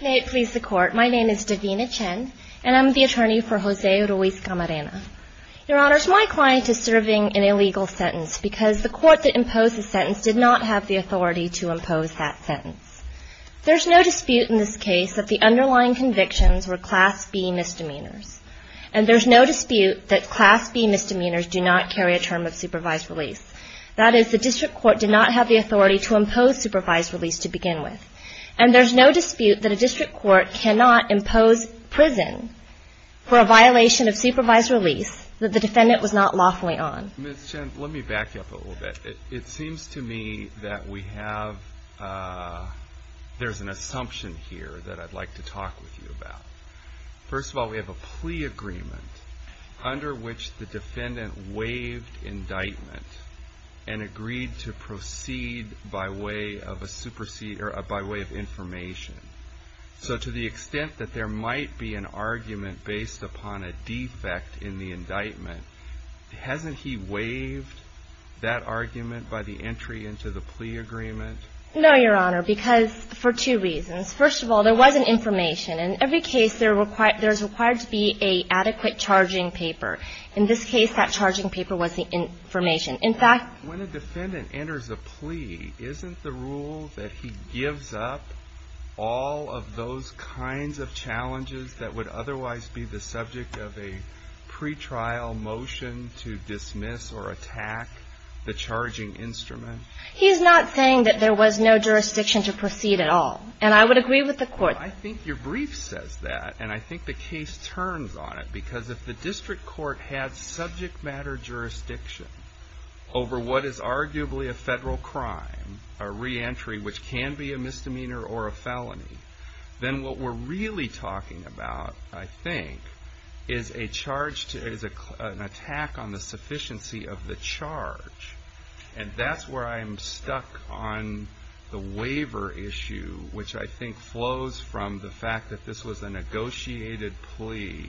May it please the Court, my name is Davina Chen and I'm the attorney for Jose Ruiz-Camarena. Your Honors, my client is serving an illegal sentence because the court that imposed the sentence did not have the authority to impose that sentence. There's no dispute in this case that the underlying convictions were Class B misdemeanors. And there's no dispute that Class B misdemeanors do not carry a term of supervised release. That is, the District Court did not have the authority to impose supervised release to begin with. And there's no dispute that a District Court cannot impose prison for a violation of supervised release that the defendant was not lawfully on. Ms. Chen, let me back you up a little bit. It seems to me that we have, there's an assumption here that I'd like to talk with you about. First of all, we have a plea agreement under which the defendant waived indictment and agreed to proceed by way of information. So to the extent that there might be an argument based upon a defect in the indictment, hasn't he waived that argument by the entry into the plea agreement? No, Your Honor, because for two reasons. First of all, there wasn't information. In every case, there's required to be an adequate charging paper. In this case, that charging paper was the information. In fact, when a defendant enters a plea, isn't the rule that he gives up all of those kinds of challenges that would otherwise be the subject of a pretrial motion to dismiss or attack the charging instrument? He's not saying that there was no jurisdiction to proceed at all. And I would agree with the Court. I think your brief says that, and I think the case turns on it, because if the district court had subject matter jurisdiction over what is arguably a federal crime, a reentry which can be a misdemeanor or a felony, then what we're really talking about, I think, is an attack on the sufficiency of the charge. And that's where I'm stuck on the waiver issue, which I think flows from the fact that this was a negotiated plea,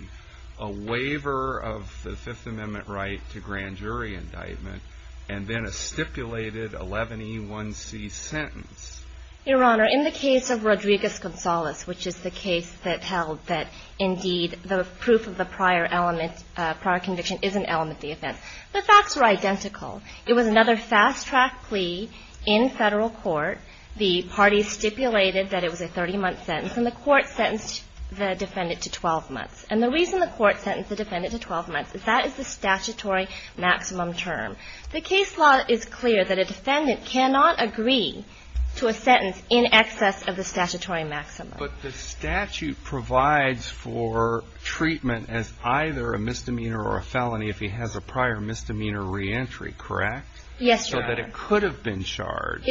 a waiver of the Fifth Amendment right to grand jury indictment, and then a stipulated 11E1C sentence. Your Honor, in the case of Rodriguez-Gonzalez, which is the case that held that indeed the proof of the prior element, it was another fast-track plea in federal court. The parties stipulated that it was a 30-month sentence, and the Court sentenced the defendant to 12 months. And the reason the Court sentenced the defendant to 12 months is that is the statutory maximum term. The case law is clear that a defendant cannot agree to a sentence in excess of the statutory maximum. But the statute provides for treatment as either a misdemeanor or a felony if he has a prior misdemeanor reentry, correct? Yes, Your Honor. So that it could have been charged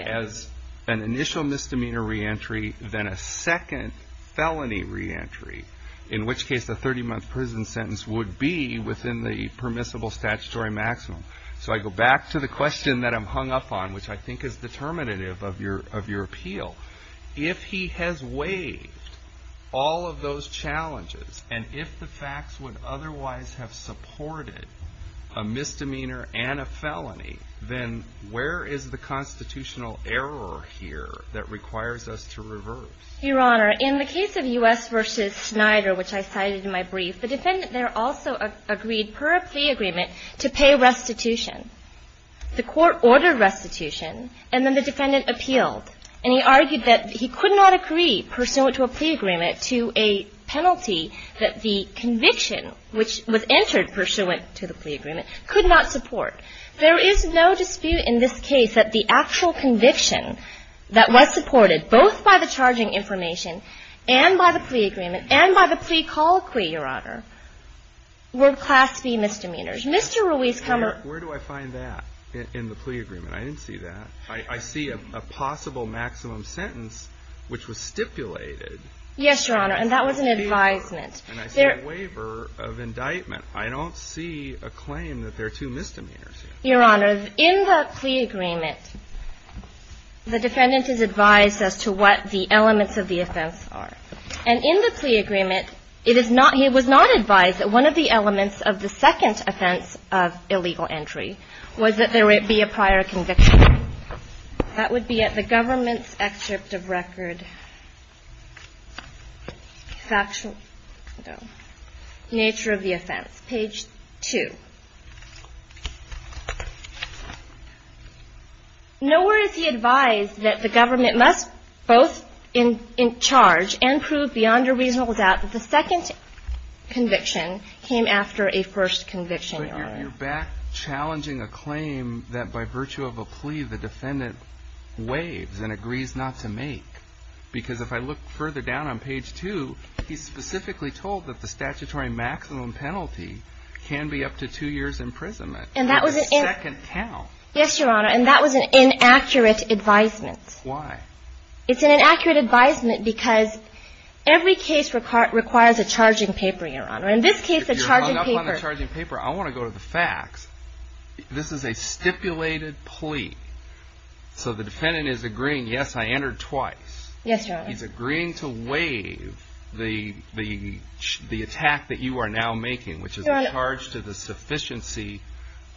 as an initial misdemeanor reentry, then a second felony reentry, in which case the 30-month prison sentence would be within the permissible statutory maximum. So I go back to the question that I'm hung up on, which I think is determinative of your appeal. If he has waived all of those challenges, and if the facts would otherwise have supported a misdemeanor and a felony, then where is the constitutional error here that requires us to reverse? Your Honor, in the case of U.S. v. Snyder, which I cited in my brief, the defendant there also agreed, per a plea agreement, to pay restitution. The Court ordered restitution, and then the defendant appealed. And he argued that he could not agree, pursuant to a plea agreement, to a penalty that the conviction, which was entered pursuant to the plea agreement, could not support. There is no dispute in this case that the actual conviction that was supported both by the charging information and by the plea agreement and by the plea colloquy, Your Honor, were Class V misdemeanors. Mr. Ruiz, come on. Where do I find that in the plea agreement? I didn't see that. I see a possible maximum sentence, which was stipulated. Yes, Your Honor, and that was an advisement. And I see a waiver of indictment. I don't see a claim that there are two misdemeanors here. Your Honor, in the plea agreement, the defendant is advised as to what the elements of the offense are. And in the plea agreement, it is not he was not advised that one of the elements of the second offense of illegal entry was that there be a prior conviction. That would be at the government's excerpt of record, Nature of the Offense, page 2. Nowhere is he advised that the government must both in charge and prove beyond a reasonable second conviction came after a first conviction, Your Honor. But you're back challenging a claim that by virtue of a plea the defendant waives and agrees not to make. Because if I look further down on page 2, he's specifically told that the statutory maximum penalty can be up to two years' imprisonment. And that was a second count. Yes, Your Honor, and that was an inaccurate advisement. Why? It's an inaccurate advisement because every case requires a charging paper, Your Honor. In this case, a charging paper. If you're hung up on the charging paper, I want to go to the facts. This is a stipulated plea. So the defendant is agreeing, yes, I entered twice. Yes, Your Honor. He's agreeing to waive the attack that you are now making, which is a charge to the sufficiency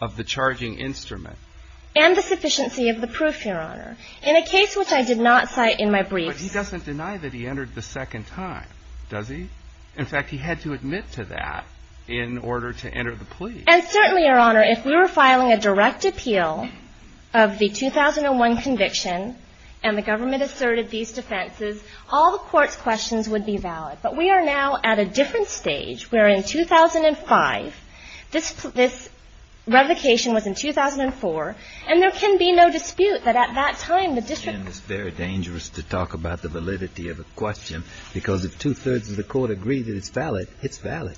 of the charging instrument. And the sufficiency of the proof, Your Honor. In a case which I did not cite in my briefs. But he doesn't deny that he entered the second time, does he? In fact, he had to admit to that in order to enter the plea. And certainly, Your Honor, if we were filing a direct appeal of the 2001 conviction and the government asserted these defenses, all the court's questions would be valid. But we are now at a different stage, where in 2005, this revocation was in 2004, and there can be no dispute that at that time the district. It's very dangerous to talk about the validity of a question, because if two-thirds of the court agree that it's valid, it's valid.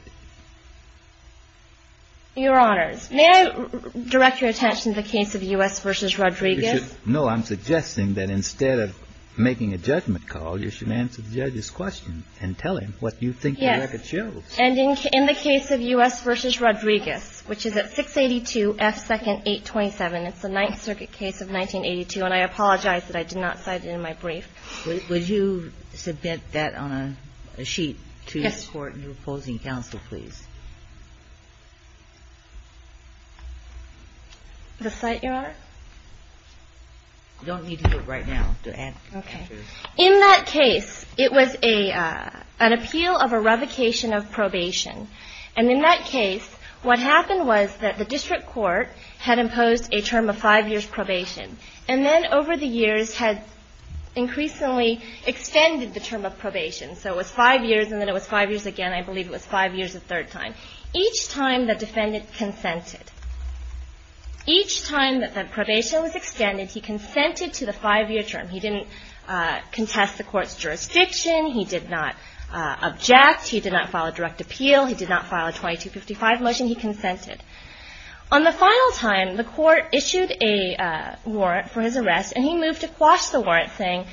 Your Honors, may I direct your attention to the case of U.S. v. Rodriguez? No, I'm suggesting that instead of making a judgment call, you should answer the judge's question and tell him what you think the record shows. And in the case of U.S. v. Rodriguez, which is at 682 F. 2nd, 827, it's the Ninth Circuit case of 1982, and I apologize that I did not cite it in my brief. Would you submit that on a sheet to this Court in opposing counsel, please? The site, Your Honor? You don't need to do it right now. Okay. In that case, it was an appeal of a revocation of probation. And in that case, what happened was that the district court had imposed a term of five years probation, and then over the years had increasingly extended the term of probation. So it was five years, and then it was five years again. I believe it was five years a third time. Each time, the defendant consented. Each time that the probation was extended, he consented to the five-year term. He didn't contest the court's jurisdiction. He did not object. He did not file a direct appeal. He did not file a 2255 motion. He consented. On the final time, the court issued a warrant for his arrest, and he moved to quash the warrant, saying,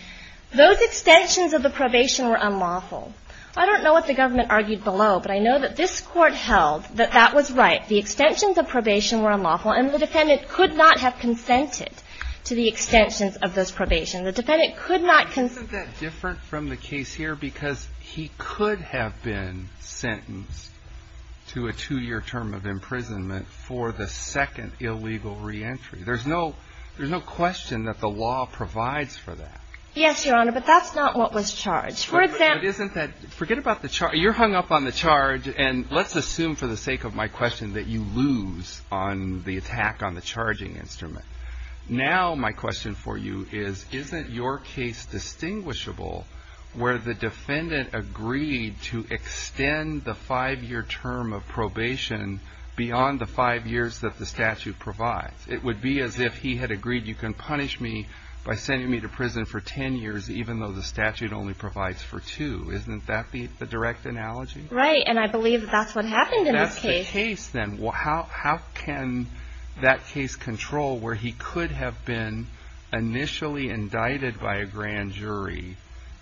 those extensions of the probation were unlawful. I don't know what the government argued below, but I know that this court held that that was right. The extensions of probation were unlawful, and the defendant could not have consented to the extensions of this probation. The defendant could not consent. Isn't that different from the case here? Because he could have been sentenced to a two-year term of imprisonment for the second illegal reentry. There's no question that the law provides for that. Yes, Your Honor, but that's not what was charged. But isn't that – forget about the – you're hung up on the charge, and let's assume for the sake of my question that you lose on the attack on the charging instrument. Now, my question for you is, isn't your case distinguishable where the defendant agreed to extend the five-year term of probation beyond the five years that the statute provides? It would be as if he had agreed, you can punish me by sending me to prison for ten years, even though the statute only provides for two. Isn't that the direct analogy? Right, and I believe that's what happened in this case. That's the case, then. Well, how can that case control where he could have been initially indicted by a grand jury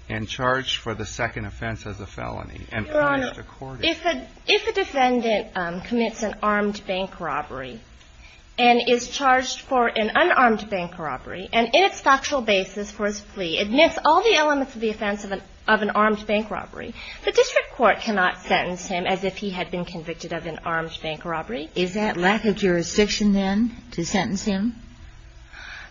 and charged for the second offense as a felony and punished accordingly? Your Honor, if a defendant commits an armed bank robbery and is charged for an unarmed bank robbery and in its factual basis for his plea admits all the elements of the offense of an armed bank robbery, the district court cannot sentence him as if he had been convicted of an armed bank robbery. Is that lack of jurisdiction, then, to sentence him?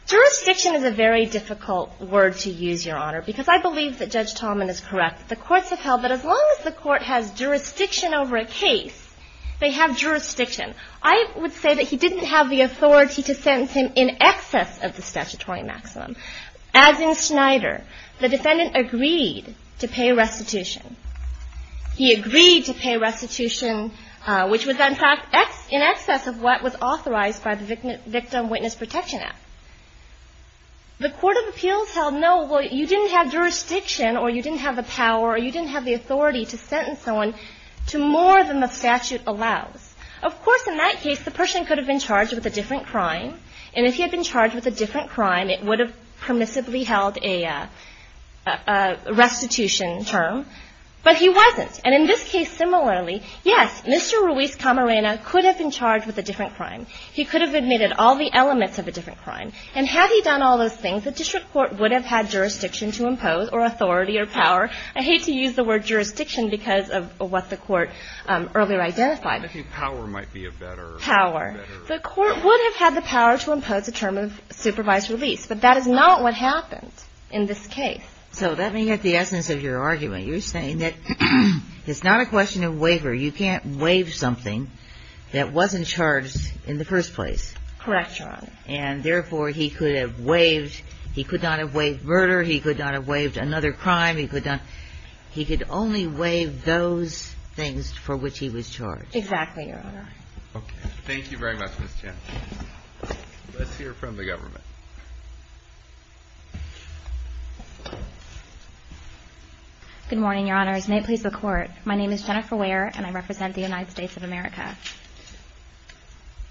Jurisdiction is a very difficult word to use, Your Honor, because I believe that Judge Tallman is correct. The courts have held that as long as the court has jurisdiction over a case, they have jurisdiction. I would say that he didn't have the authority to sentence him in excess of the statutory maximum. As in Snyder, the defendant agreed to pay restitution. He agreed to pay restitution, which was, in fact, in excess of what was authorized by the Victim Witness Protection Act. The court of appeals held, no, well, you didn't have jurisdiction or you didn't have the power or you didn't have the authority to sentence someone to more than the statute allows. Of course, in that case, the person could have been charged with a different crime, and if he had been charged with a different crime, it would have permissibly held a restitution term. But he wasn't. And in this case, similarly, yes, Mr. Ruiz Camarena could have been charged with a different crime. He could have admitted all the elements of a different crime. And had he done all those things, the district court would have had jurisdiction to impose or authority or power. I hate to use the word jurisdiction because of what the court earlier identified. I think power might be a better word. Power. The court would have had the power to impose a term of supervised release, but that is not what happened in this case. So let me get the essence of your argument. You're saying that it's not a question of waiver. You can't waive something that wasn't charged in the first place. Correct, Your Honor. And therefore, he could have waived. He could not have waived murder. He could not have waived another crime. He could only waive those things for which he was charged. Exactly, Your Honor. Okay. Thank you very much, Ms. Chan. Let's hear from the government. Good morning, Your Honors. May it please the Court. My name is Jennifer Ware, and I represent the United States of America.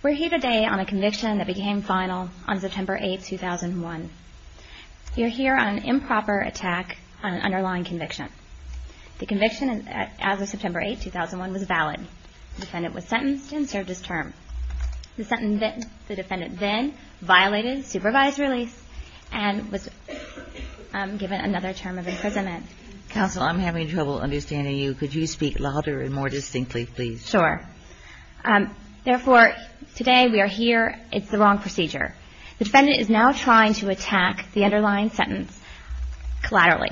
We're here today on a conviction that became final on September 8, 2001. You're here on an improper attack on an underlying conviction. The conviction, as of September 8, 2001, was valid. The defendant was sentenced and served his term. The defendant then violated supervised release and was given another term of imprisonment. Counsel, I'm having trouble understanding you. Could you speak louder and more distinctly, please? Sure. Therefore, today we are here. It's the wrong procedure. The defendant is now trying to attack the underlying sentence collaterally.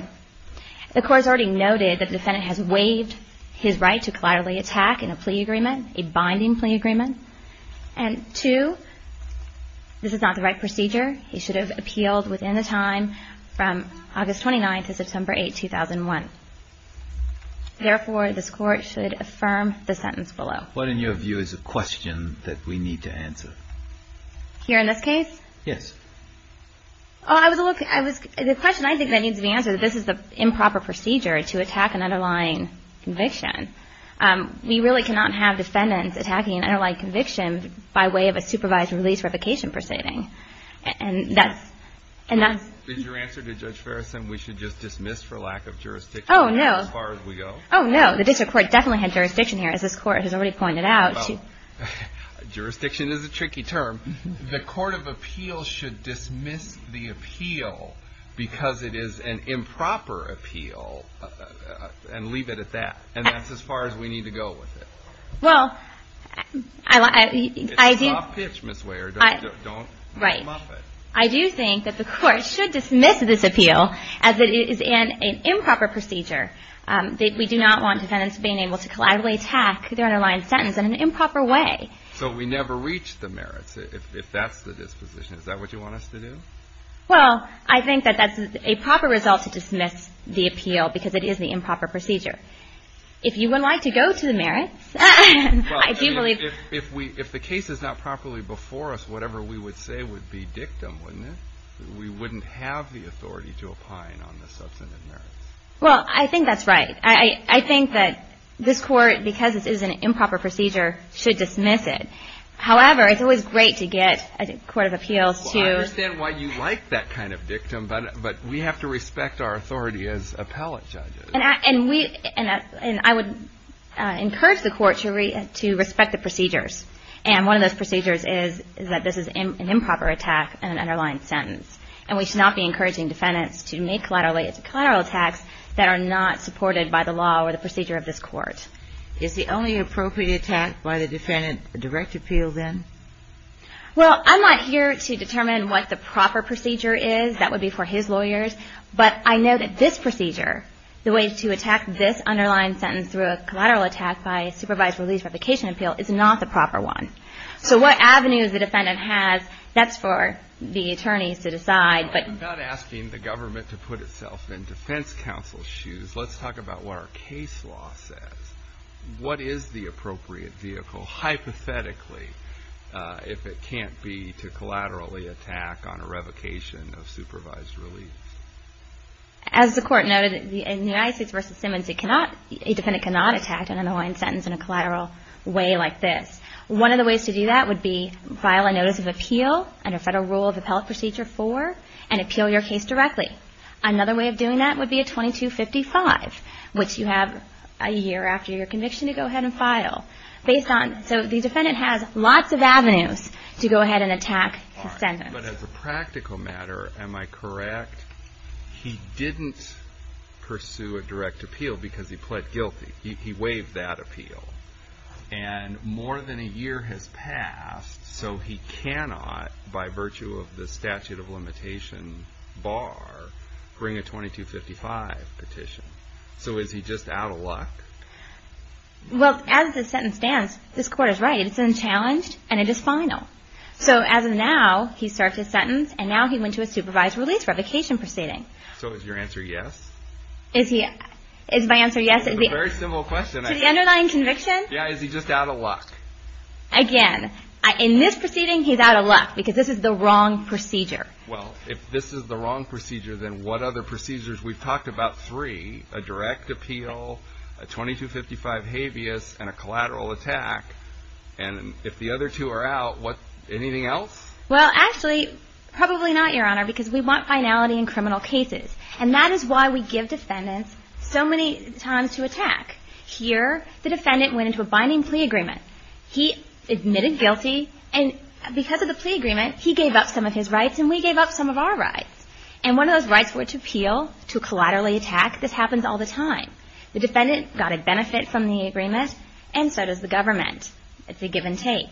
The Court has already noted that the defendant has waived his right to collaterally attack in a plea agreement, a binding plea agreement. And two, this is not the right procedure. He should have appealed within the time from August 29 to September 8, 2001. Therefore, this Court should affirm the sentence below. What, in your view, is the question that we need to answer? Here in this case? Yes. The question I think that needs to be answered, this is the improper procedure to attack an underlying conviction. We really cannot have defendants attacking an underlying conviction by way of a supervised release revocation proceeding. And that's, and that's. Is your answer to Judge Farrison we should just dismiss for lack of jurisdiction? Oh, no. As far as we go? Oh, no. The district court definitely had jurisdiction here, as this Court has already pointed out. Well, jurisdiction is a tricky term. The court of appeals should dismiss the appeal because it is an improper appeal and leave it at that. And that's as far as we need to go with it. Well, I do. It's a soft pitch, Ms. Weyer. Don't muff it. Right. I do think that the Court should dismiss this appeal as it is an improper procedure. We do not want defendants being able to collaterally attack their underlying sentence in an improper way. So we never reach the merits, if that's the disposition. Is that what you want us to do? Well, I think that that's a proper result to dismiss the appeal because it is the improper procedure. If you would like to go to the merits, I do believe. If the case is not properly before us, whatever we would say would be dictum, wouldn't it? We wouldn't have the authority to opine on the substantive merits. Well, I think that's right. I think that this Court, because this is an improper procedure, should dismiss it. However, it's always great to get a court of appeals to. I understand why you like that kind of dictum, but we have to respect our authority as appellate judges. And I would encourage the Court to respect the procedures. And one of those procedures is that this is an improper attack in an underlying sentence. And we should not be encouraging defendants to make collateral attacks that are not supported by the law or the procedure of this Court. Is the only appropriate attack by the defendant a direct appeal, then? Well, I'm not here to determine what the proper procedure is. That would be for his lawyers. But I know that this procedure, the way to attack this underlying sentence through a collateral attack by supervised release for application appeal is not the proper one. So what avenues the defendant has, that's for the attorneys to decide. I'm not asking the government to put itself in defense counsel's shoes. Let's talk about what our case law says. What is the appropriate vehicle? Hypothetically, if it can't be to collaterally attack on a revocation of supervised release. As the Court noted, in United States v. Simmons, a defendant cannot attack an underlying sentence in a collateral way like this. One of the ways to do that would be file a notice of appeal under Federal Rule of Appellate Procedure 4 and appeal your case directly. Another way of doing that would be a 2255, which you have a year after your conviction to go ahead and file. So the defendant has lots of avenues to go ahead and attack his sentence. But as a practical matter, am I correct? He didn't pursue a direct appeal because he pled guilty. He waived that appeal. And more than a year has passed, so he cannot, by virtue of the statute of limitation bar, bring a 2255 petition. So is he just out of luck? Well, as the sentence stands, this Court is right. It's unchallenged, and it is final. So as of now, he served his sentence, and now he went to a supervised release revocation proceeding. So is your answer yes? Is my answer yes? It's a very simple question. To the underlying conviction? Yeah, is he just out of luck? Again, in this proceeding, he's out of luck because this is the wrong procedure. Well, if this is the wrong procedure, then what other procedures? We've talked about three, a direct appeal, a 2255 habeas, and a collateral attack. And if the other two are out, anything else? Well, actually, probably not, Your Honor, because we want finality in criminal cases. And that is why we give defendants so many times to attack. Here, the defendant went into a binding plea agreement. He admitted guilty. And because of the plea agreement, he gave up some of his rights, and we gave up some of our rights. And one of those rights were to appeal, to collaterally attack. This happens all the time. The defendant got a benefit from the agreement, and so does the government. It's a give and take.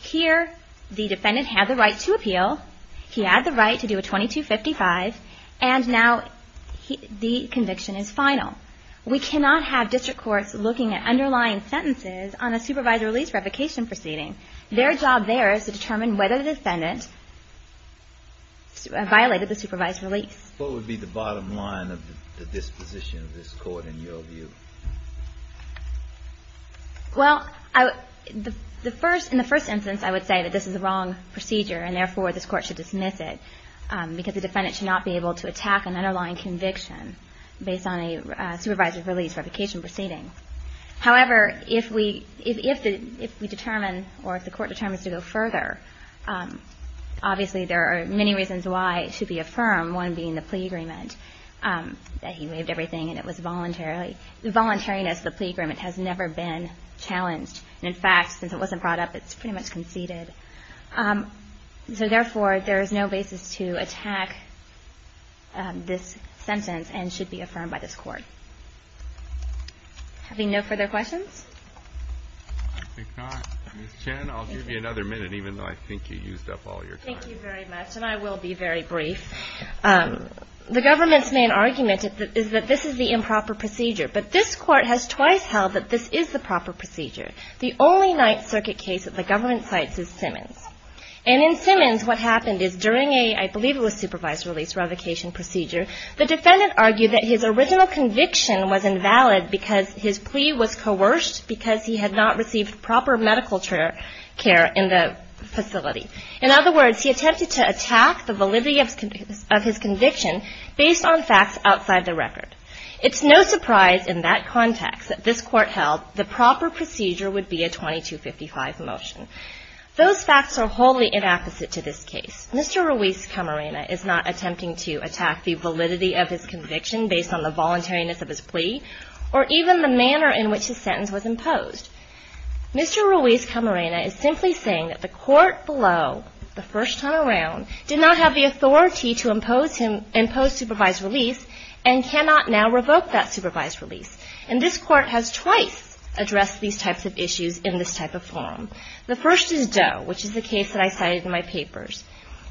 Here, the defendant had the right to appeal. He had the right to do a 2255, and now the conviction is final. We cannot have district courts looking at underlying sentences on a supervised release revocation proceeding. Their job there is to determine whether the defendant violated the supervised release. What would be the bottom line of the disposition of this Court, in your view? Well, in the first instance, I would say that this is a wrong procedure, and therefore, this Court should dismiss it, because the defendant should not be able to attack an underlying conviction based on a supervised release revocation proceeding. However, if we determine, or if the Court determines to go further, obviously there are many reasons why it should be affirmed, one being the plea agreement, that he waived everything and it was voluntarily. The voluntariness of the plea agreement has never been challenged. And in fact, since it wasn't brought up, it's pretty much conceded. So therefore, there is no basis to attack this sentence and should be affirmed by this Court. Having no further questions? I think not. Ms. Chen, I'll give you another minute, even though I think you used up all your time. Thank you very much, and I will be very brief. The government's main argument is that this is the improper procedure, but this Court has twice held that this is the proper procedure. The only Ninth Circuit case that the government cites is Simmons. And in Simmons, what happened is during a, I believe it was supervised release revocation procedure, the defendant argued that his original conviction was invalid because his plea was coerced because he had not received proper medical care in the facility. In other words, he attempted to attack the validity of his conviction based on facts outside the record. It's no surprise in that context that this Court held the proper procedure would be a 2255 motion. Those facts are wholly inapposite to this case. Mr. Ruiz Camarena is not attempting to attack the validity of his conviction based on the voluntariness of his plea or even the manner in which his sentence was imposed. Mr. Ruiz Camarena is simply saying that the Court below, the first time around, did not have the authority to impose supervised release and cannot now revoke that supervised release. And this Court has twice addressed these types of issues in this type of forum. The first is Doe, which is the case that I cited in my papers,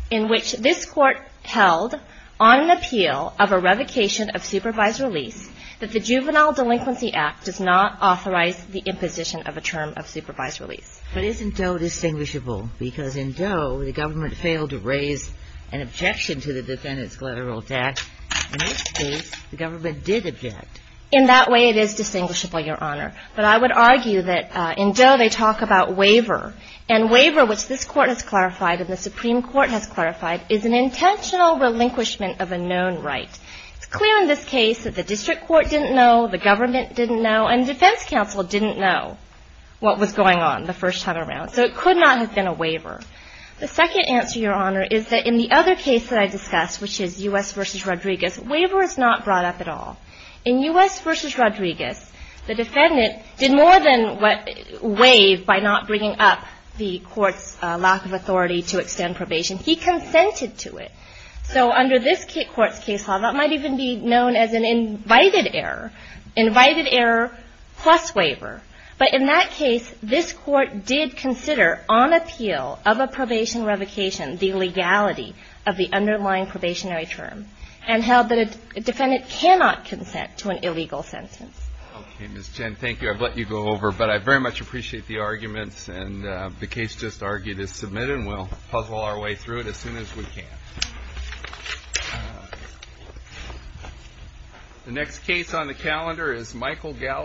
in which this Court held on an appeal of a revocation of supervised release that the Juvenile Delinquency Act does not authorize the imposition of a term of supervised release. But isn't Doe distinguishable? Because in Doe, the government failed to raise an objection to the defendant's collateral tax. In this case, the government did object. In that way, it is distinguishable, Your Honor. But I would argue that in Doe, they talk about waiver. And waiver, which this Court has clarified and the Supreme Court has clarified, is an intentional relinquishment of a known right. It's clear in this case that the district court didn't know, the government didn't know, and defense counsel didn't know what was going on the first time around. So it could not have been a waiver. The second answer, Your Honor, is that in the other case that I discussed, which is U.S. v. Rodriguez, waiver is not brought up at all. In U.S. v. Rodriguez, the defendant did more than waive by not bringing up the court's lack of authority to extend probation. He consented to it. So under this court's case law, that might even be known as an invited error, invited error plus waiver. But in that case, this court did consider on appeal of a probation revocation the legality of the underlying probationary term and held that a defendant cannot consent to an illegal sentence. Okay, Ms. Chen, thank you. I've let you go over. But I very much appreciate the arguments. And the case just argued is submitted, and we'll puzzle our way through it as soon as we can. The next case on the calendar is Michael Gallagher.